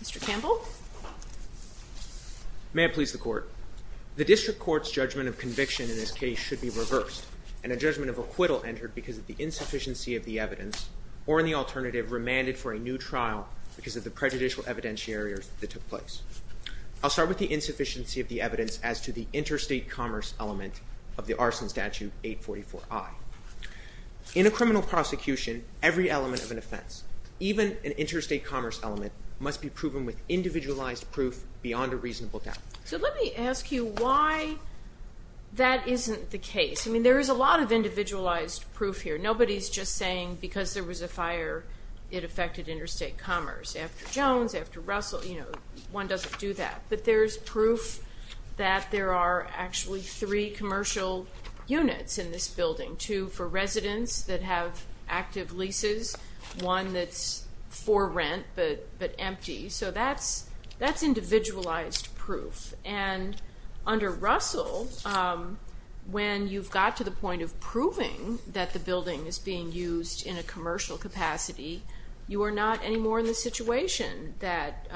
Mr. Campbell. May it please the court. The district court's judgment of conviction in this case should be reversed and a judgment of acquittal entered because of the insufficiency of the evidence or in the alternative remanded for a new trial because of the prejudicial evidentiaries that took place. I'll start with the insufficiency of the evidence as to the interstate commerce element of the arson statute 844I. In a criminal prosecution, every element of an offense, even an interstate commerce element, must be proven with individualized proof beyond a reasonable doubt. So let me ask you why that isn't the case. I mean there is a lot of individualized proof here. Nobody's just saying because there was a fire it affected interstate commerce. After Jones, after Russell, you know, one doesn't do that. But there's proof that there are actually three commercial units in this building. Two for residents that have active leases, one that's for rent but empty. So that's that's individualized proof. And under Russell, when you've got to the point of proving that the building is being used in a commercial capacity, you are not anymore in the situation that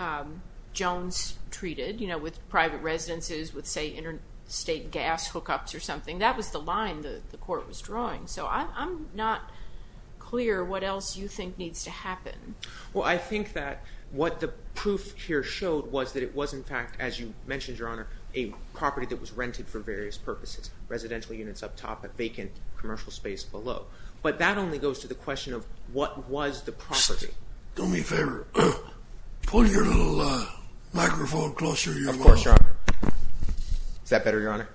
Jones treated, you know, with private residences with say interstate gas hookups or something. That was the line that the court was drawing. So I'm not clear what else you think needs to happen. Well I think that what the proof here showed was that it was in fact, as you mentioned your honor, a property that was rented for various purposes. Residential units up top, a vacant commercial space below. But that only goes to the question of what was the property. Do me a favor. Pull your little microphone closer to your mouth. Of course, your honor. Is that better, your honor?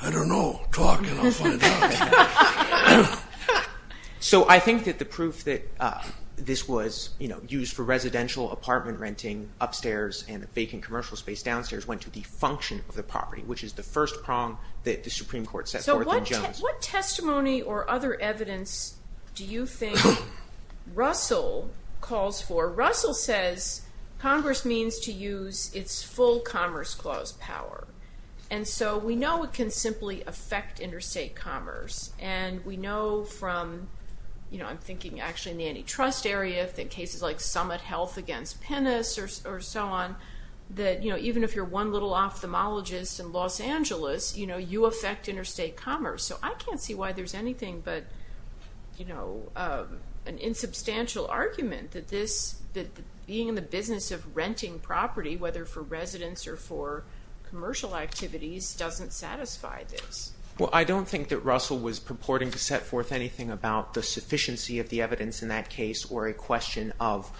I don't know. Talk and I'll find out. So I think that the proof that this was, you know, used for residential apartment renting upstairs and a vacant commercial space downstairs went to the function of the property, which is the first prong that the Supreme Court used. What other evidence do you think Russell calls for? Russell says Congress means to use its full Commerce Clause power. And so we know it can simply affect interstate commerce. And we know from, you know, I'm thinking actually in the antitrust area, in cases like Summit Health against Pennis or so on, that, you know, even if you're one little ophthalmologist in Los Angeles, you know, you affect interstate commerce. So I can't see why there's anything but, you know, an insubstantial argument that this, that being in the business of renting property, whether for residents or for commercial activities, doesn't satisfy this. Well, I don't think that Russell was purporting to set forth anything about the sufficiency of the evidence in that case or a question of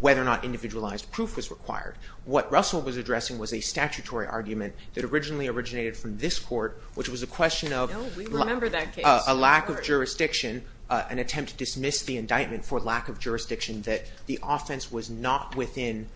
whether or not individualized proof was required. What Russell was addressing was a statutory argument that originally originated from this court, which was a question of a lack of jurisdiction, an attempt to dismiss the indictment for lack of jurisdiction, that the offense was not within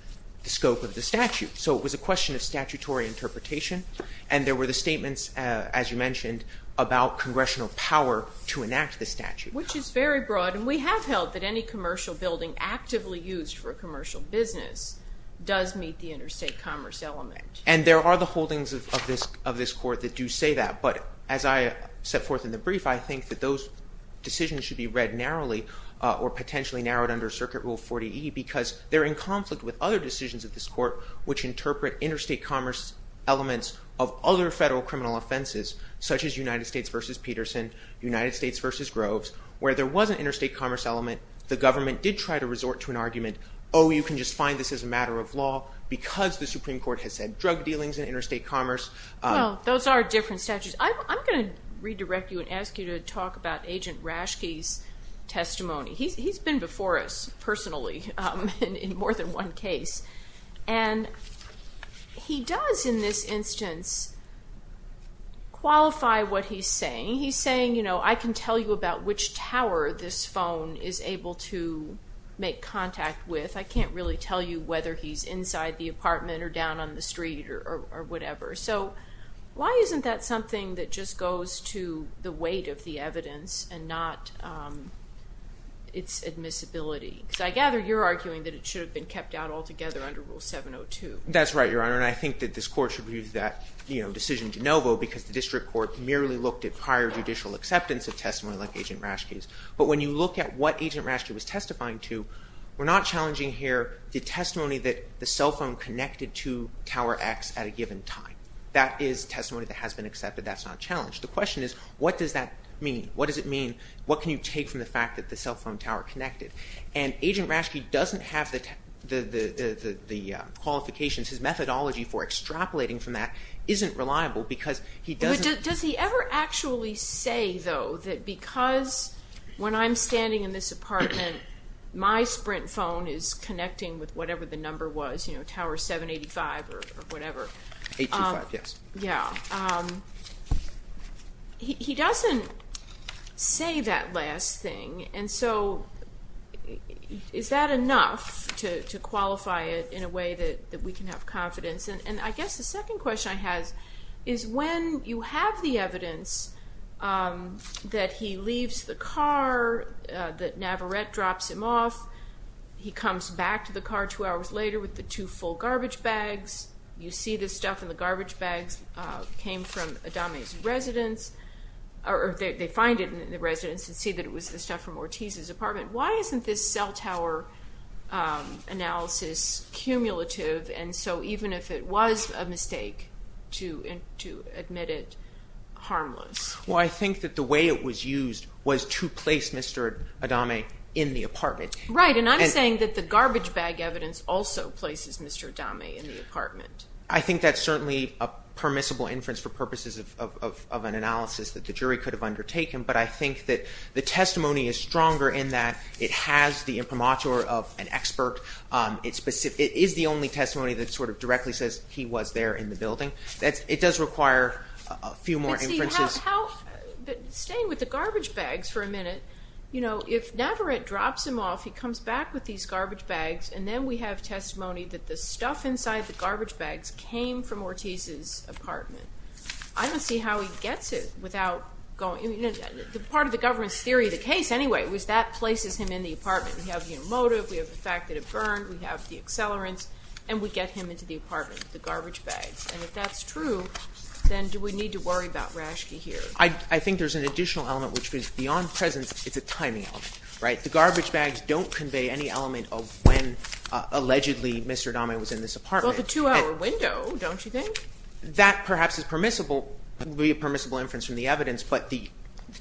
the scope of the statute. So it was a question of statutory interpretation, and there were the statements, as you mentioned, about congressional power to enact the statute. Which is very broad, and we have held that any commercial building actively used for a commercial business does meet the interstate commerce element. And there are the holdings of this court that do say that, but as I set forth in the brief, I think that those decisions should be read narrowly, or potentially narrowed under Circuit Rule 40E, because they're in conflict with other decisions of this court which interpret interstate commerce elements of other federal criminal offenses, such as United States v. Peterson, United States v. Groves, where there was an interstate commerce element, the government did try to resort to an interstate commerce element because the Supreme Court has said drug dealings in interstate commerce. Well, those are different statutes. I'm going to redirect you and ask you to talk about Agent Rashke's testimony. He's been before us, personally, in more than one case. And he does, in this instance, qualify what he's saying. He's saying, you know, I can tell you about which tower this phone is able to make outside the apartment, or down on the street, or whatever. So, why isn't that something that just goes to the weight of the evidence and not its admissibility? Because I gather you're arguing that it should have been kept out altogether under Rule 702. That's right, Your Honor. And I think that this court should use that decision de novo, because the District Court merely looked at prior judicial acceptance of testimony like Agent Rashke's. But when you look at what Agent Rashke was testifying to, we're not challenging here the testimony that the cell phone connected to Tower X at a given time. That is testimony that has been accepted. That's not challenged. The question is, what does that mean? What does it mean? What can you take from the fact that the cell phone tower connected? And Agent Rashke doesn't have the qualifications, his methodology for extrapolating from that isn't reliable, because he doesn't... Does he ever actually say, though, that because when I'm standing in this room, Tower 785 or whatever, he doesn't say that last thing. And so, is that enough to qualify it in a way that we can have confidence? And I guess the second question I have is, when you have the evidence that he leaves the car, that Navarette drops him off, he comes back to the car two hours later with the two full garbage bags, you see this stuff in the garbage bags came from Adame's residence, or they find it in the residence and see that it was the stuff from Ortiz's apartment. Why isn't this cell tower analysis cumulative? And so even if it was a mistake to admit it harmless? Well, I think that the way it was used was to place Mr. Adame in the apartment. Right, and I'm saying that the garbage bag evidence also places Mr. Adame in the apartment. I think that's certainly a permissible inference for purposes of an analysis that the jury could have undertaken, but I think that the testimony is stronger in that it has the imprimatur of an expert. It is the only testimony that sort of directly says he was there in the building. It does require a few more inferences. Staying with the garbage bags for a minute, you know, if Navarette drops him off, he comes back with these garbage bags, and then we have testimony that the stuff inside the garbage bags came from Ortiz's apartment. I don't see how he gets it without going, you know, part of the government's theory of the case anyway, was that places him in the apartment. We have the motive, we have the fact that it burned, we have the accelerants, and we get him into the apartment with the garbage bags. And if that's true, then do we need to worry about Rashke here? I think there's an additional element, which is beyond presence, it's a timing element, right? The garbage bags don't convey any element of when, allegedly, Mr. Adame was in this apartment. Well, the two-hour window, don't you think? That, perhaps, is permissible, would be a permissible inference from the evidence, but the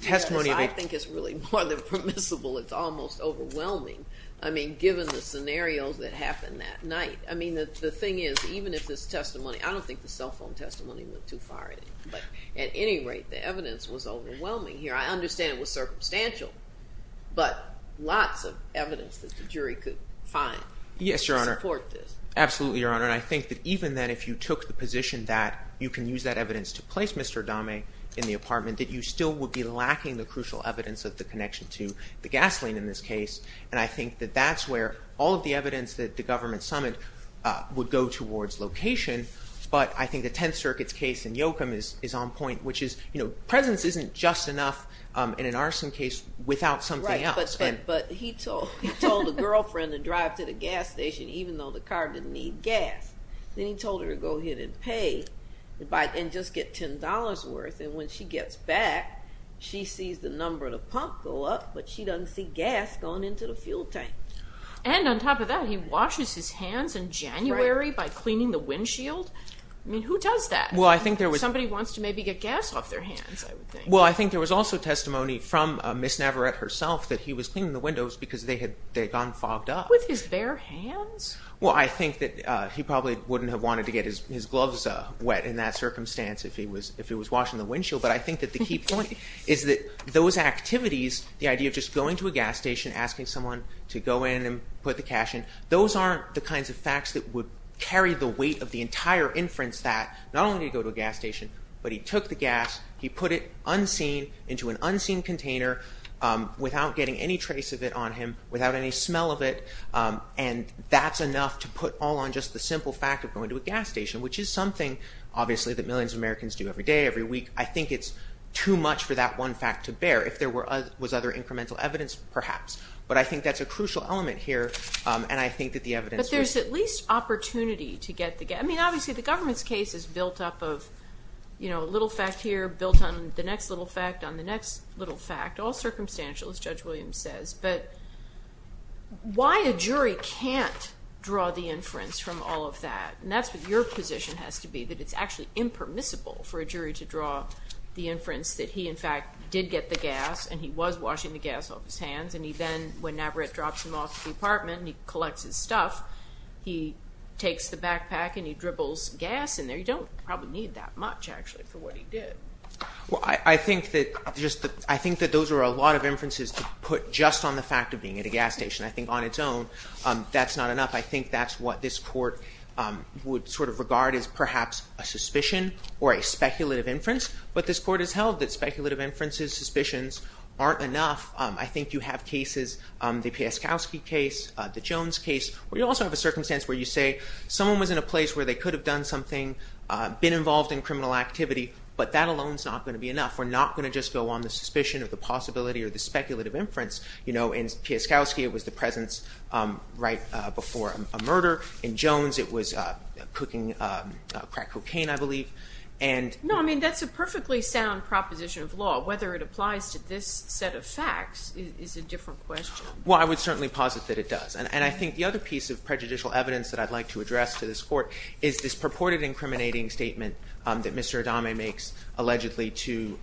testimony... I think it's really more than permissible. It's almost overwhelming. I mean, given the scenarios that happened that night. I mean, the thing is, even if this testimony, I don't think the cell phone testimony went too far, but at any rate, the evidence was overwhelming here. I understand it was circumstantial, but lots of evidence that the jury could find to support this. Yes, Your Honor, absolutely, Your Honor, and I think that even then, if you took the position that you can use that evidence to place Mr. Adame in the apartment, that you still would be lacking the crucial evidence of the connection to the gasoline in this case, and I think that that's where all of the evidence that the government summoned would go towards location, but I think the Tenth Circuit's case in Yoakum is on point, which is, you know, presence isn't just enough in an arson case without something else. But he told the girlfriend to drive to the gas station, even though the car didn't need gas. Then he told her to go ahead and pay, and just get $10 worth, and when she gets back, she sees the number of the pump go up, but she doesn't see gas going into the fuel tank. And on his hands in January, by cleaning the windshield? I mean, who does that? Well, I think there was... Somebody wants to maybe get gas off their hands, I would think. Well, I think there was also testimony from Ms. Navarette herself that he was cleaning the windows because they had gone fogged up. With his bare hands? Well, I think that he probably wouldn't have wanted to get his gloves wet in that circumstance if he was washing the windshield, but I think that the key point is that those activities, the idea of just going to a gas station, asking someone to go in and put the cash in, those aren't the kinds of facts that would carry the weight of the entire inference that not only did he go to a gas station, but he took the gas, he put it unseen, into an unseen container, without getting any trace of it on him, without any smell of it, and that's enough to put all on just the simple fact of going to a gas station, which is something obviously that millions of Americans do every day, every week. I think it's too much for that one fact to bear. If there was other incremental evidence, perhaps, but I think that's a crucial element here, and I think that the evidence... But there's at least opportunity to get the gas... I mean, obviously, the government's case is built up of, you know, a little fact here, built on the next little fact, on the next little fact, all circumstantial, as Judge Williams says, but why a jury can't draw the inference from all of that? And that's what your position has to be, that it's actually impermissible for a jury to draw the inference that he, in fact, did get the gas, and he was washing the gas off his hands, and he then, when Navarrete drops him off at the apartment, and he collects his stuff, he takes the backpack and he dribbles gas in there. You don't probably need that much, actually, for what he did. Well, I think that just... I think that those are a lot of inferences to put just on the fact of being at a gas station. I think, on its own, that's not enough. I think that's what this Court would sort of regard as perhaps a suspicion or a speculative inference, but this Court has held that speculative inferences, suspicions, aren't enough. I think you have cases, the Pieskowski case, the Jones case, where you also have a circumstance where you say someone was in a place where they could have done something, been involved in criminal activity, but that alone is not going to be enough. We're not going to just go on the suspicion of the possibility or the speculative inference, you know. In Pieskowski, it was the presence right before a murder. In Jones, it was cooking crack cocaine, I believe, and... No, I mean, that's a perfectly sound proposition of law. Whether it applies to this set of is a different question. Well, I would certainly posit that it does, and I think the other piece of prejudicial evidence that I'd like to address to this Court is this purported incriminating statement that Mr. Adame makes, allegedly, to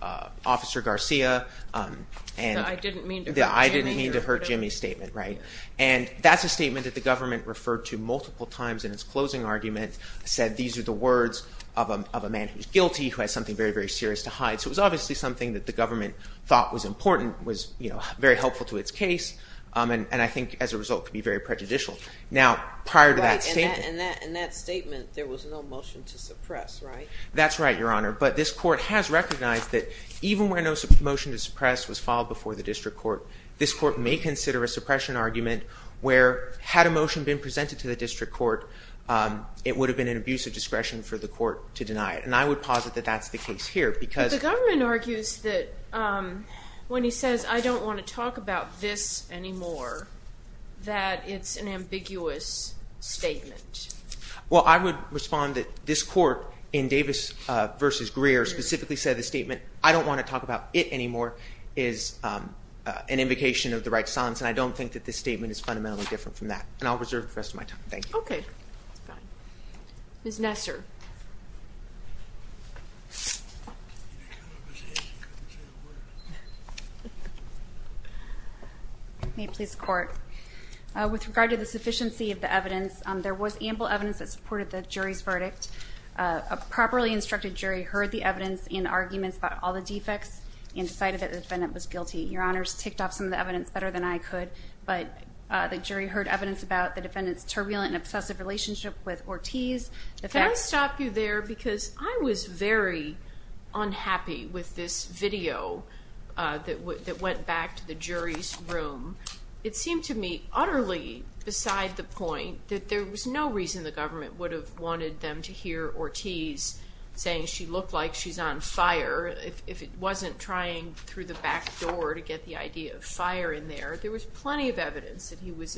Officer Garcia. I didn't mean to hurt Jimmy. I didn't mean to hurt Jimmy's statement, right? And that's a statement that the government referred to multiple times in its closing argument, said these are the words of a man who's guilty, who has something very, very serious to hide. So it was obviously something that the government referred to multiple times. I think it's helpful to its case, and I think, as a result, could be very prejudicial. Now, prior to that statement... Right, and in that statement, there was no motion to suppress, right? That's right, Your Honor, but this Court has recognized that even where no motion to suppress was filed before the District Court, this Court may consider a suppression argument where, had a motion been presented to the District Court, it would have been an abuse of discretion for the Court to deny it. And I would posit that that's the case here, because... The gentleman argues that when he says, I don't want to talk about this anymore, that it's an ambiguous statement. Well, I would respond that this Court, in Davis v. Greer, specifically said the statement, I don't want to talk about it anymore, is an invocation of the right to silence, and I don't think that this statement is fundamentally different from that. And I'll reserve the rest of my time. Thank you. Okay. Ms. Nesser. May it please the Court. With regard to the sufficiency of the evidence, there was ample evidence that supported the jury's verdict. A properly instructed jury heard the evidence and arguments about all the defects, and decided that the defendant was guilty. Your Honors ticked off some of the evidence better than I could, but the relationship with Ortiz... Can I stop you there, because I was very unhappy with this video that went back to the jury's room. It seemed to me utterly beside the point that there was no reason the government would have wanted them to hear Ortiz saying she looked like she's on fire, if it wasn't trying through the back door to get the idea of fire in there. There was plenty of evidence that he was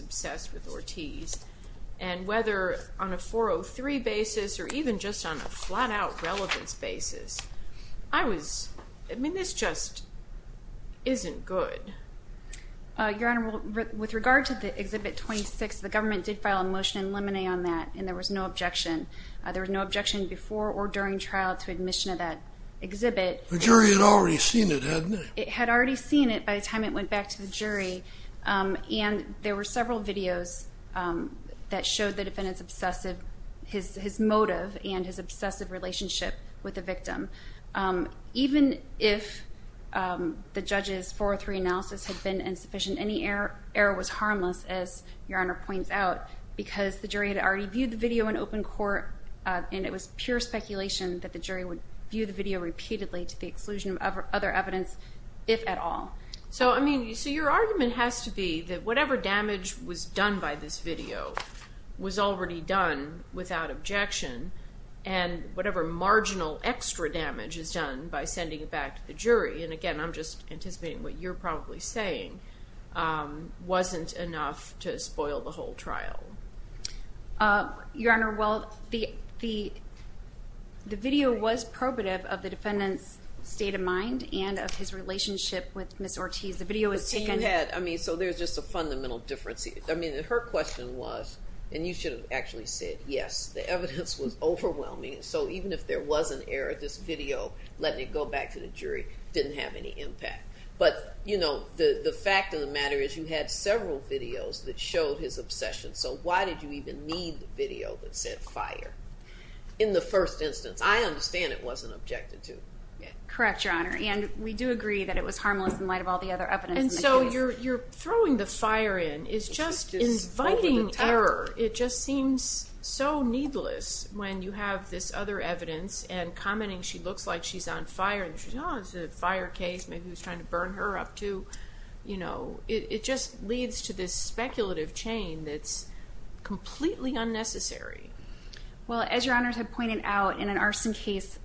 guilty, whether on a 403 basis or even just on a flat-out relevance basis. I was... I mean, this just isn't good. Your Honor, with regard to the Exhibit 26, the government did file a motion in limine on that, and there was no objection. There was no objection before or during trial to admission of that exhibit. The jury had already seen it, hadn't they? It had already seen it by the time it went back to the jury, and there were no objections to the defendant's obsessive... his motive and his obsessive relationship with the victim. Even if the judge's 403 analysis had been insufficient, any error was harmless, as Your Honor points out, because the jury had already viewed the video in open court, and it was pure speculation that the jury would view the video repeatedly to the exclusion of other evidence, if at all. So, I mean, so your argument has to be that whatever damage was done by this video was already done without objection, and whatever marginal extra damage is done by sending it back to the jury, and again, I'm just anticipating what you're probably saying, wasn't enough to spoil the whole trial. Your Honor, well, the video was probative of the defendant's state of mind and of his relationship with Ms. Ortiz. The video was taken... I mean, so there's just a fundamental difference. I mean, her question was, and you should have actually said yes, the evidence was overwhelming, so even if there was an error, this video, letting it go back to the jury, didn't have any impact. But, you know, the fact of the matter is you had several videos that showed his obsession, so why did you even need the video that said fire in the first instance? I understand it wasn't objected to. Correct, Your Honor, and we do agree that it was harmless in light of all the other evidence. And so you're you're throwing the fire in. It's just inviting error. It just seems so needless when you have this other evidence and commenting she looks like she's on fire, and she's, oh, it's a fire case, maybe he was trying to burn her up, too. You know, it just leads to this speculative chain that's completely unnecessary. Well, as Your Honors have pointed out, in an arson case,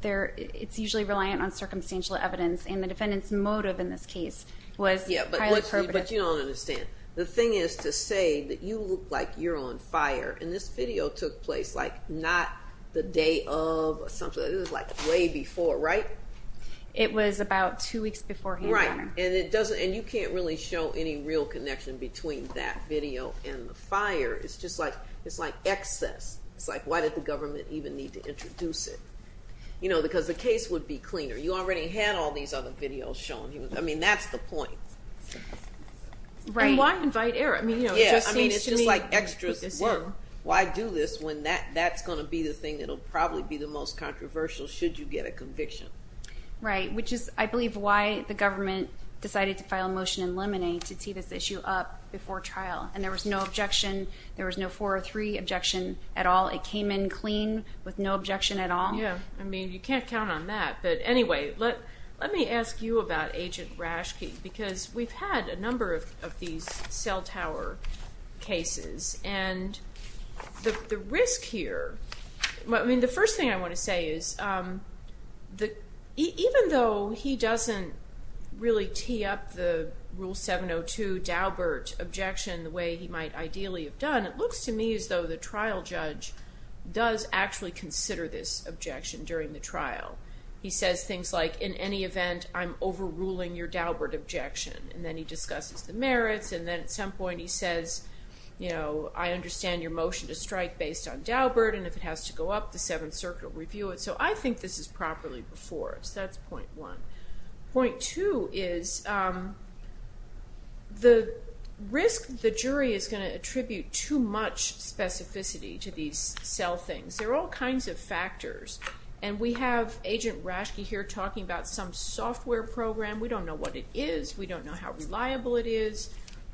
there, it's usually reliant on the defendant's motive in this case. Yeah, but you don't understand. The thing is, to say that you look like you're on fire, and this video took place, like, not the day of something, it was like way before, right? It was about two weeks beforehand. Right, and it doesn't, and you can't really show any real connection between that video and the fire. It's just like, it's like excess. It's like, why did the government even need to introduce it? You know, because the case would be cleaner. You already had all these other videos shown. I mean, that's the point. Right. And why invite error? I mean, you know, it just seems to me. Yeah, I mean, it's just like extras at work. Why do this when that's gonna be the thing that'll probably be the most controversial, should you get a conviction? Right, which is, I believe, why the government decided to file a motion in Lemonade to see this issue up before trial, and there was no objection. There was no four or three objection at all. It came in clean, with no objection at all. Yeah, I mean, you can't count on that, but anyway, let me ask you about Agent Rashke, because we've had a number of these cell tower cases, and the risk here, I mean, the first thing I want to say is that even though he doesn't really tee up the Rule 702 Daubert objection the way he might ideally have done, it looks to me as though the trial judge does actually consider this objection during the trial. He says things like, in any event, I'm overruling your Daubert objection, and then he discusses the merits, and then at some point he says, you know, I understand your motion to strike based on Daubert, and if it has to go up, the Seventh Circuit will review it. So I think this is properly before us. That's point one. Point two is the risk the jury is going to attribute too much specificity to these cell things. There are all kinds of factors, and we have Agent Rashke here talking about some software program. We don't know what it is. We don't know how reliable it is.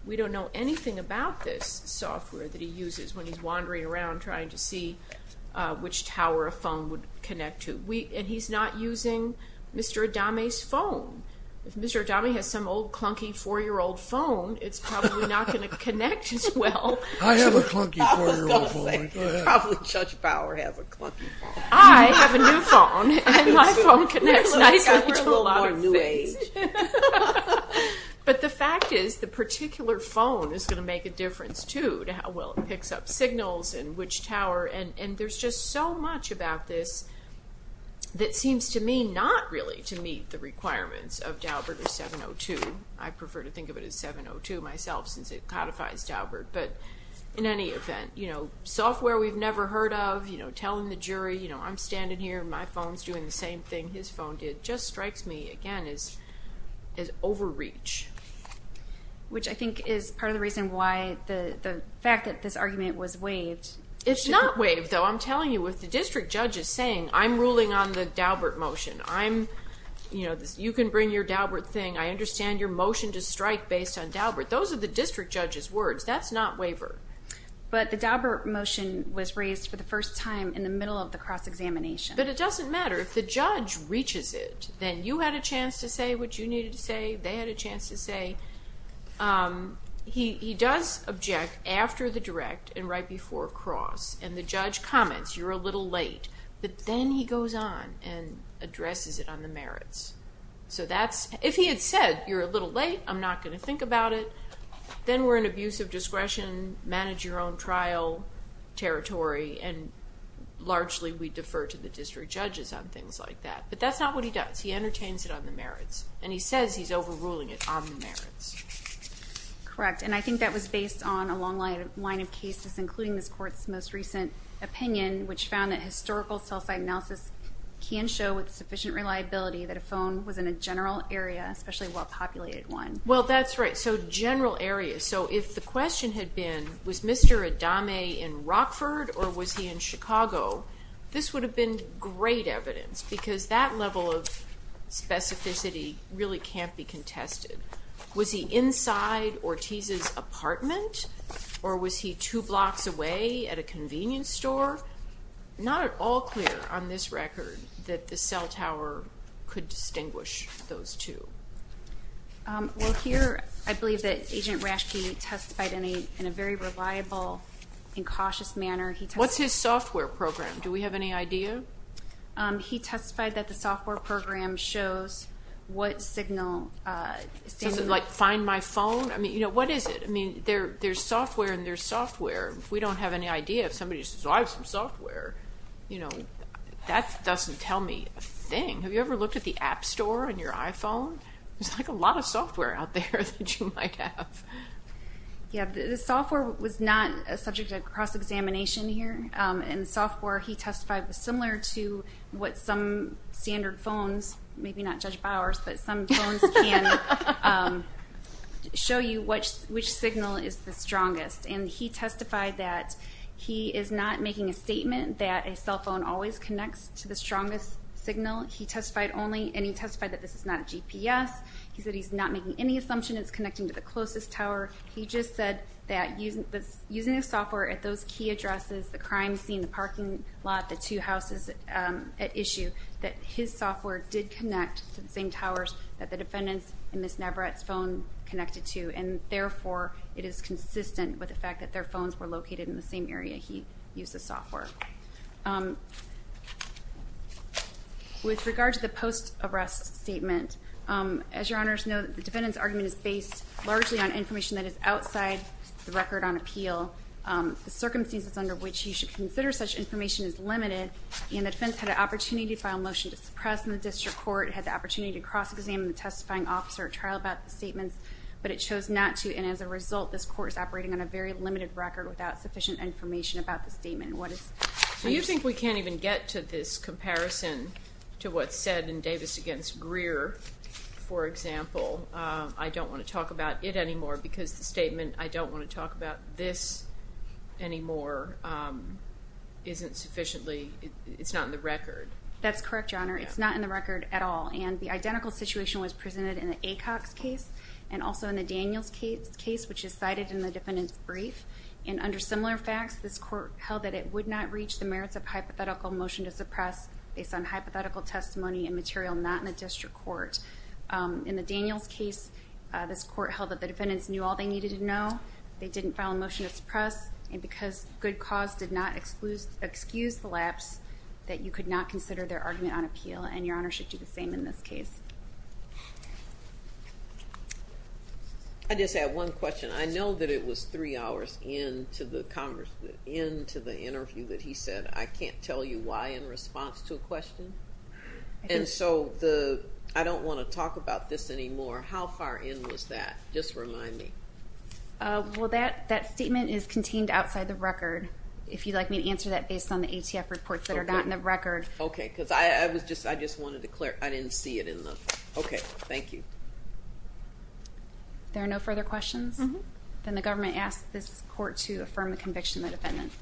We don't know anything about this software that he uses when he's wandering around trying to see which tower a phone would connect to. And he's not using Mr. Adame's phone. If Mr. Adame has some old clunky four-year-old phone, it's probably not going to connect as well. I have a clunky four-year-old phone. Probably Judge Bauer has a clunky phone. I have a new phone, and my phone connects nicely to a lot of things. But the fact is, the particular phone is going to make a difference too to how well it picks up signals and which tower, and there's just so much about this that seems to me not really to meet the requirements of Daubert or 702. I prefer to think of it as 702 myself, since it codifies Daubert. But in any event, software we've never heard of, telling the jury, I'm standing here, my phone's doing the same thing his phone did, just strikes me, again, as overreach. Which I think is part of the reason why the fact that this argument was waived. It's not waived, though. I'm telling you, with the district judges saying, I'm ruling on the Daubert motion, you can bring your Daubert thing, I understand your motion to strike based on Daubert. Those are the district judge's words. That's not waivered. But the Daubert motion was raised for the first time in the middle of the cross-examination. But it doesn't matter. If the judge reaches it, then you had a chance to say what you needed to say, they had a chance to say. He does object after the direct and right before cross, and the judge comments, you're a little late. But then he goes on and addresses it on the merits. If he had said, you're a little late, I'm not going to think about it, then we're in abuse of discretion, manage your own trial territory, and largely we defer to the district judges on things like that. But that's not what he does. He entertains it on the merits. And he says he's overruling it on the merits. Correct. And I think that was based on a long line of cases, including this Court's most recent opinion, which found that historical self-analysis can show with sufficient reliability that a phone was in a general area, especially a well-populated one. Well, that's right. So general area. So if the question had been, was Mr. Adame in Rockford or was he in Chicago, this would have been great evidence because that level of specificity really can't be contested. Was he inside Ortiz's apartment or was he two blocks away at a convenience store? Not at all clear on this record that the cell tower could distinguish those two. Well, here I believe that Agent Rashke testified in a very reliable and cautious manner. What's his software program? Do we have any idea? He testified that the software program shows what signal. Does it like find my phone? I mean, what is it? I mean, there's software and there's software. If we don't have any idea, if somebody says, oh, I have some software, you know, that doesn't tell me a thing. Have you ever looked at the App Store on your iPhone? There's like a lot of software out there that you might have. Yeah, the software was not a subject of cross-examination here, and the software he testified was similar to what some standard phones, maybe not Judge Bowers, but some phones can show you which signal is the strongest. And he testified that he is not making a statement that a cell phone always connects to the strongest signal. He testified only, and he testified that this is not a GPS. He said he's not making any assumption it's connecting to the closest tower. He just said that using his software at those key addresses, the crime scene, the parking lot, the two houses at issue, that his software did connect to the same towers that the defendants in Ms. Navarette's phone connected to, and, therefore, it is consistent with the fact that their phones were located in the same area he used the software. With regard to the post-arrest statement, as your Honors know, the defendant's argument is based largely on information that is outside the record on appeal. The circumstances under which you should consider such information is limited, and the defense had an opportunity to file a motion to suppress in the district court, had the opportunity to cross-examine the testifying officer at trial about the statement, but it chose not to, and as a result, this court is operating on a very limited record without sufficient information about the statement. Do you think we can't even get to this comparison to what's said in Davis v. Greer, for example, I don't want to talk about it anymore because the statement, I don't want to talk about this anymore, isn't sufficiently, it's not in the record? That's correct, Your Honor, it's not in the record at all, and the identical situation was presented in the Acocks case, and also in the Daniels case, which is cited in the defendant's brief, and under similar facts, this court held that it would not reach the merits of hypothetical motion to suppress based on hypothetical testimony and material not in the district court. In the Daniels case, this court held that the defendants knew all they needed to know, they didn't file a motion to suppress, and because good cause did not excuse the lapse, that you could not consider their argument on appeal, and Your Honor should do the same in this case. I just have one question. I know that it was three hours into the interview that he said, I can't tell you why in response to a question, and so I don't want to talk about this anymore. How far in was that? Just remind me. Well, that statement is contained outside the record. If you'd like me to answer that based on the ATF reports that are not in the record. Okay, because I just wanted to clear, I didn't see it in the, okay, thank you. If there are no further questions, then the government asks this court to affirm the conviction of the defendant.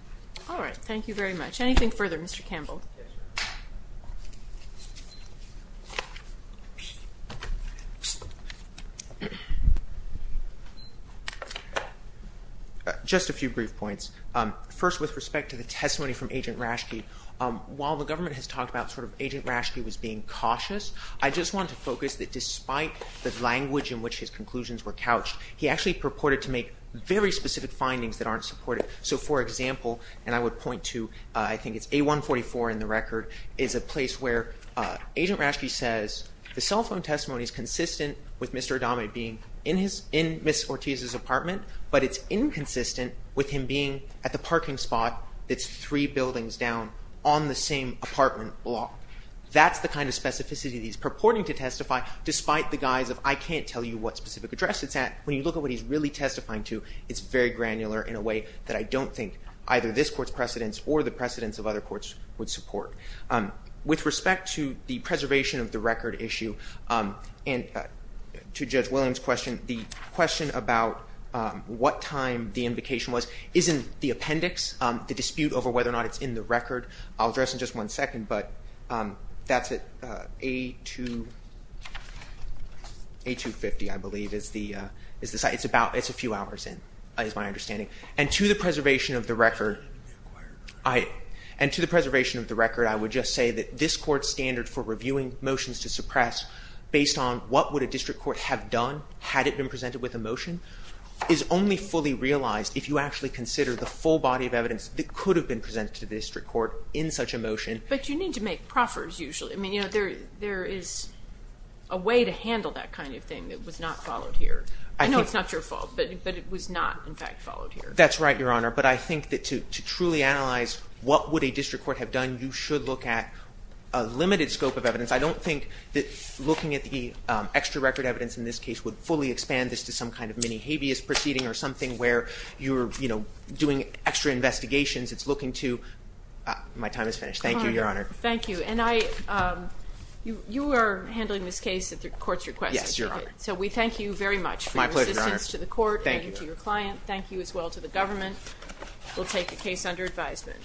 All right, thank you very much. Anything further, Mr. Campbell? Yes, Your Honor. Just a few brief points. First, with respect to the testimony from Agent Rashke, while the government has talked about sort of Agent Rashke was being cautious, I just wanted to focus that despite the language in which his conclusions were couched, he actually purported to make very specific findings that aren't supported. So, for example, and I would point to, I think it's A144 in the record, is a place where Agent Rashke says, the cell phone testimony is consistent with Mr. Adame being in Ms. Ortiz's apartment, but it's inconsistent with him being at the parking spot that's three buildings down on the same apartment block. That's the kind of specificity that he's purporting to testify, despite the guise of I can't tell you what specific address it's at. When you look at what he's really testifying to, it's very granular in a way that I don't think either this court's precedents or the precedents of other courts would support. With respect to the preservation of the record issue, and to Judge Williams' question, the question about what time the invocation was is in the appendix, I'll address in just one second, but that's at A250, I believe, is the site. It's a few hours in, is my understanding. And to the preservation of the record, I would just say that this court's standard for reviewing motions to suppress, based on what would a district court have done had it been presented with a motion, is only fully realized if you actually consider the full body of evidence that could have been presented to the district court in such a motion. But you need to make proffers, usually. There is a way to handle that kind of thing that was not followed here. I know it's not your fault, but it was not, in fact, followed here. That's right, Your Honor. But I think that to truly analyze what would a district court have done, you should look at a limited scope of evidence. I don't think that looking at the extra record evidence in this case would fully expand this to some kind of mini habeas proceeding or something where you're doing extra investigations. It's looking to my time is finished. Thank you, Your Honor. Thank you. And you are handling this case at the court's request. Yes, Your Honor. So we thank you very much for your assistance to the court and to your client. Thank you as well to the government. We'll take the case under advisement.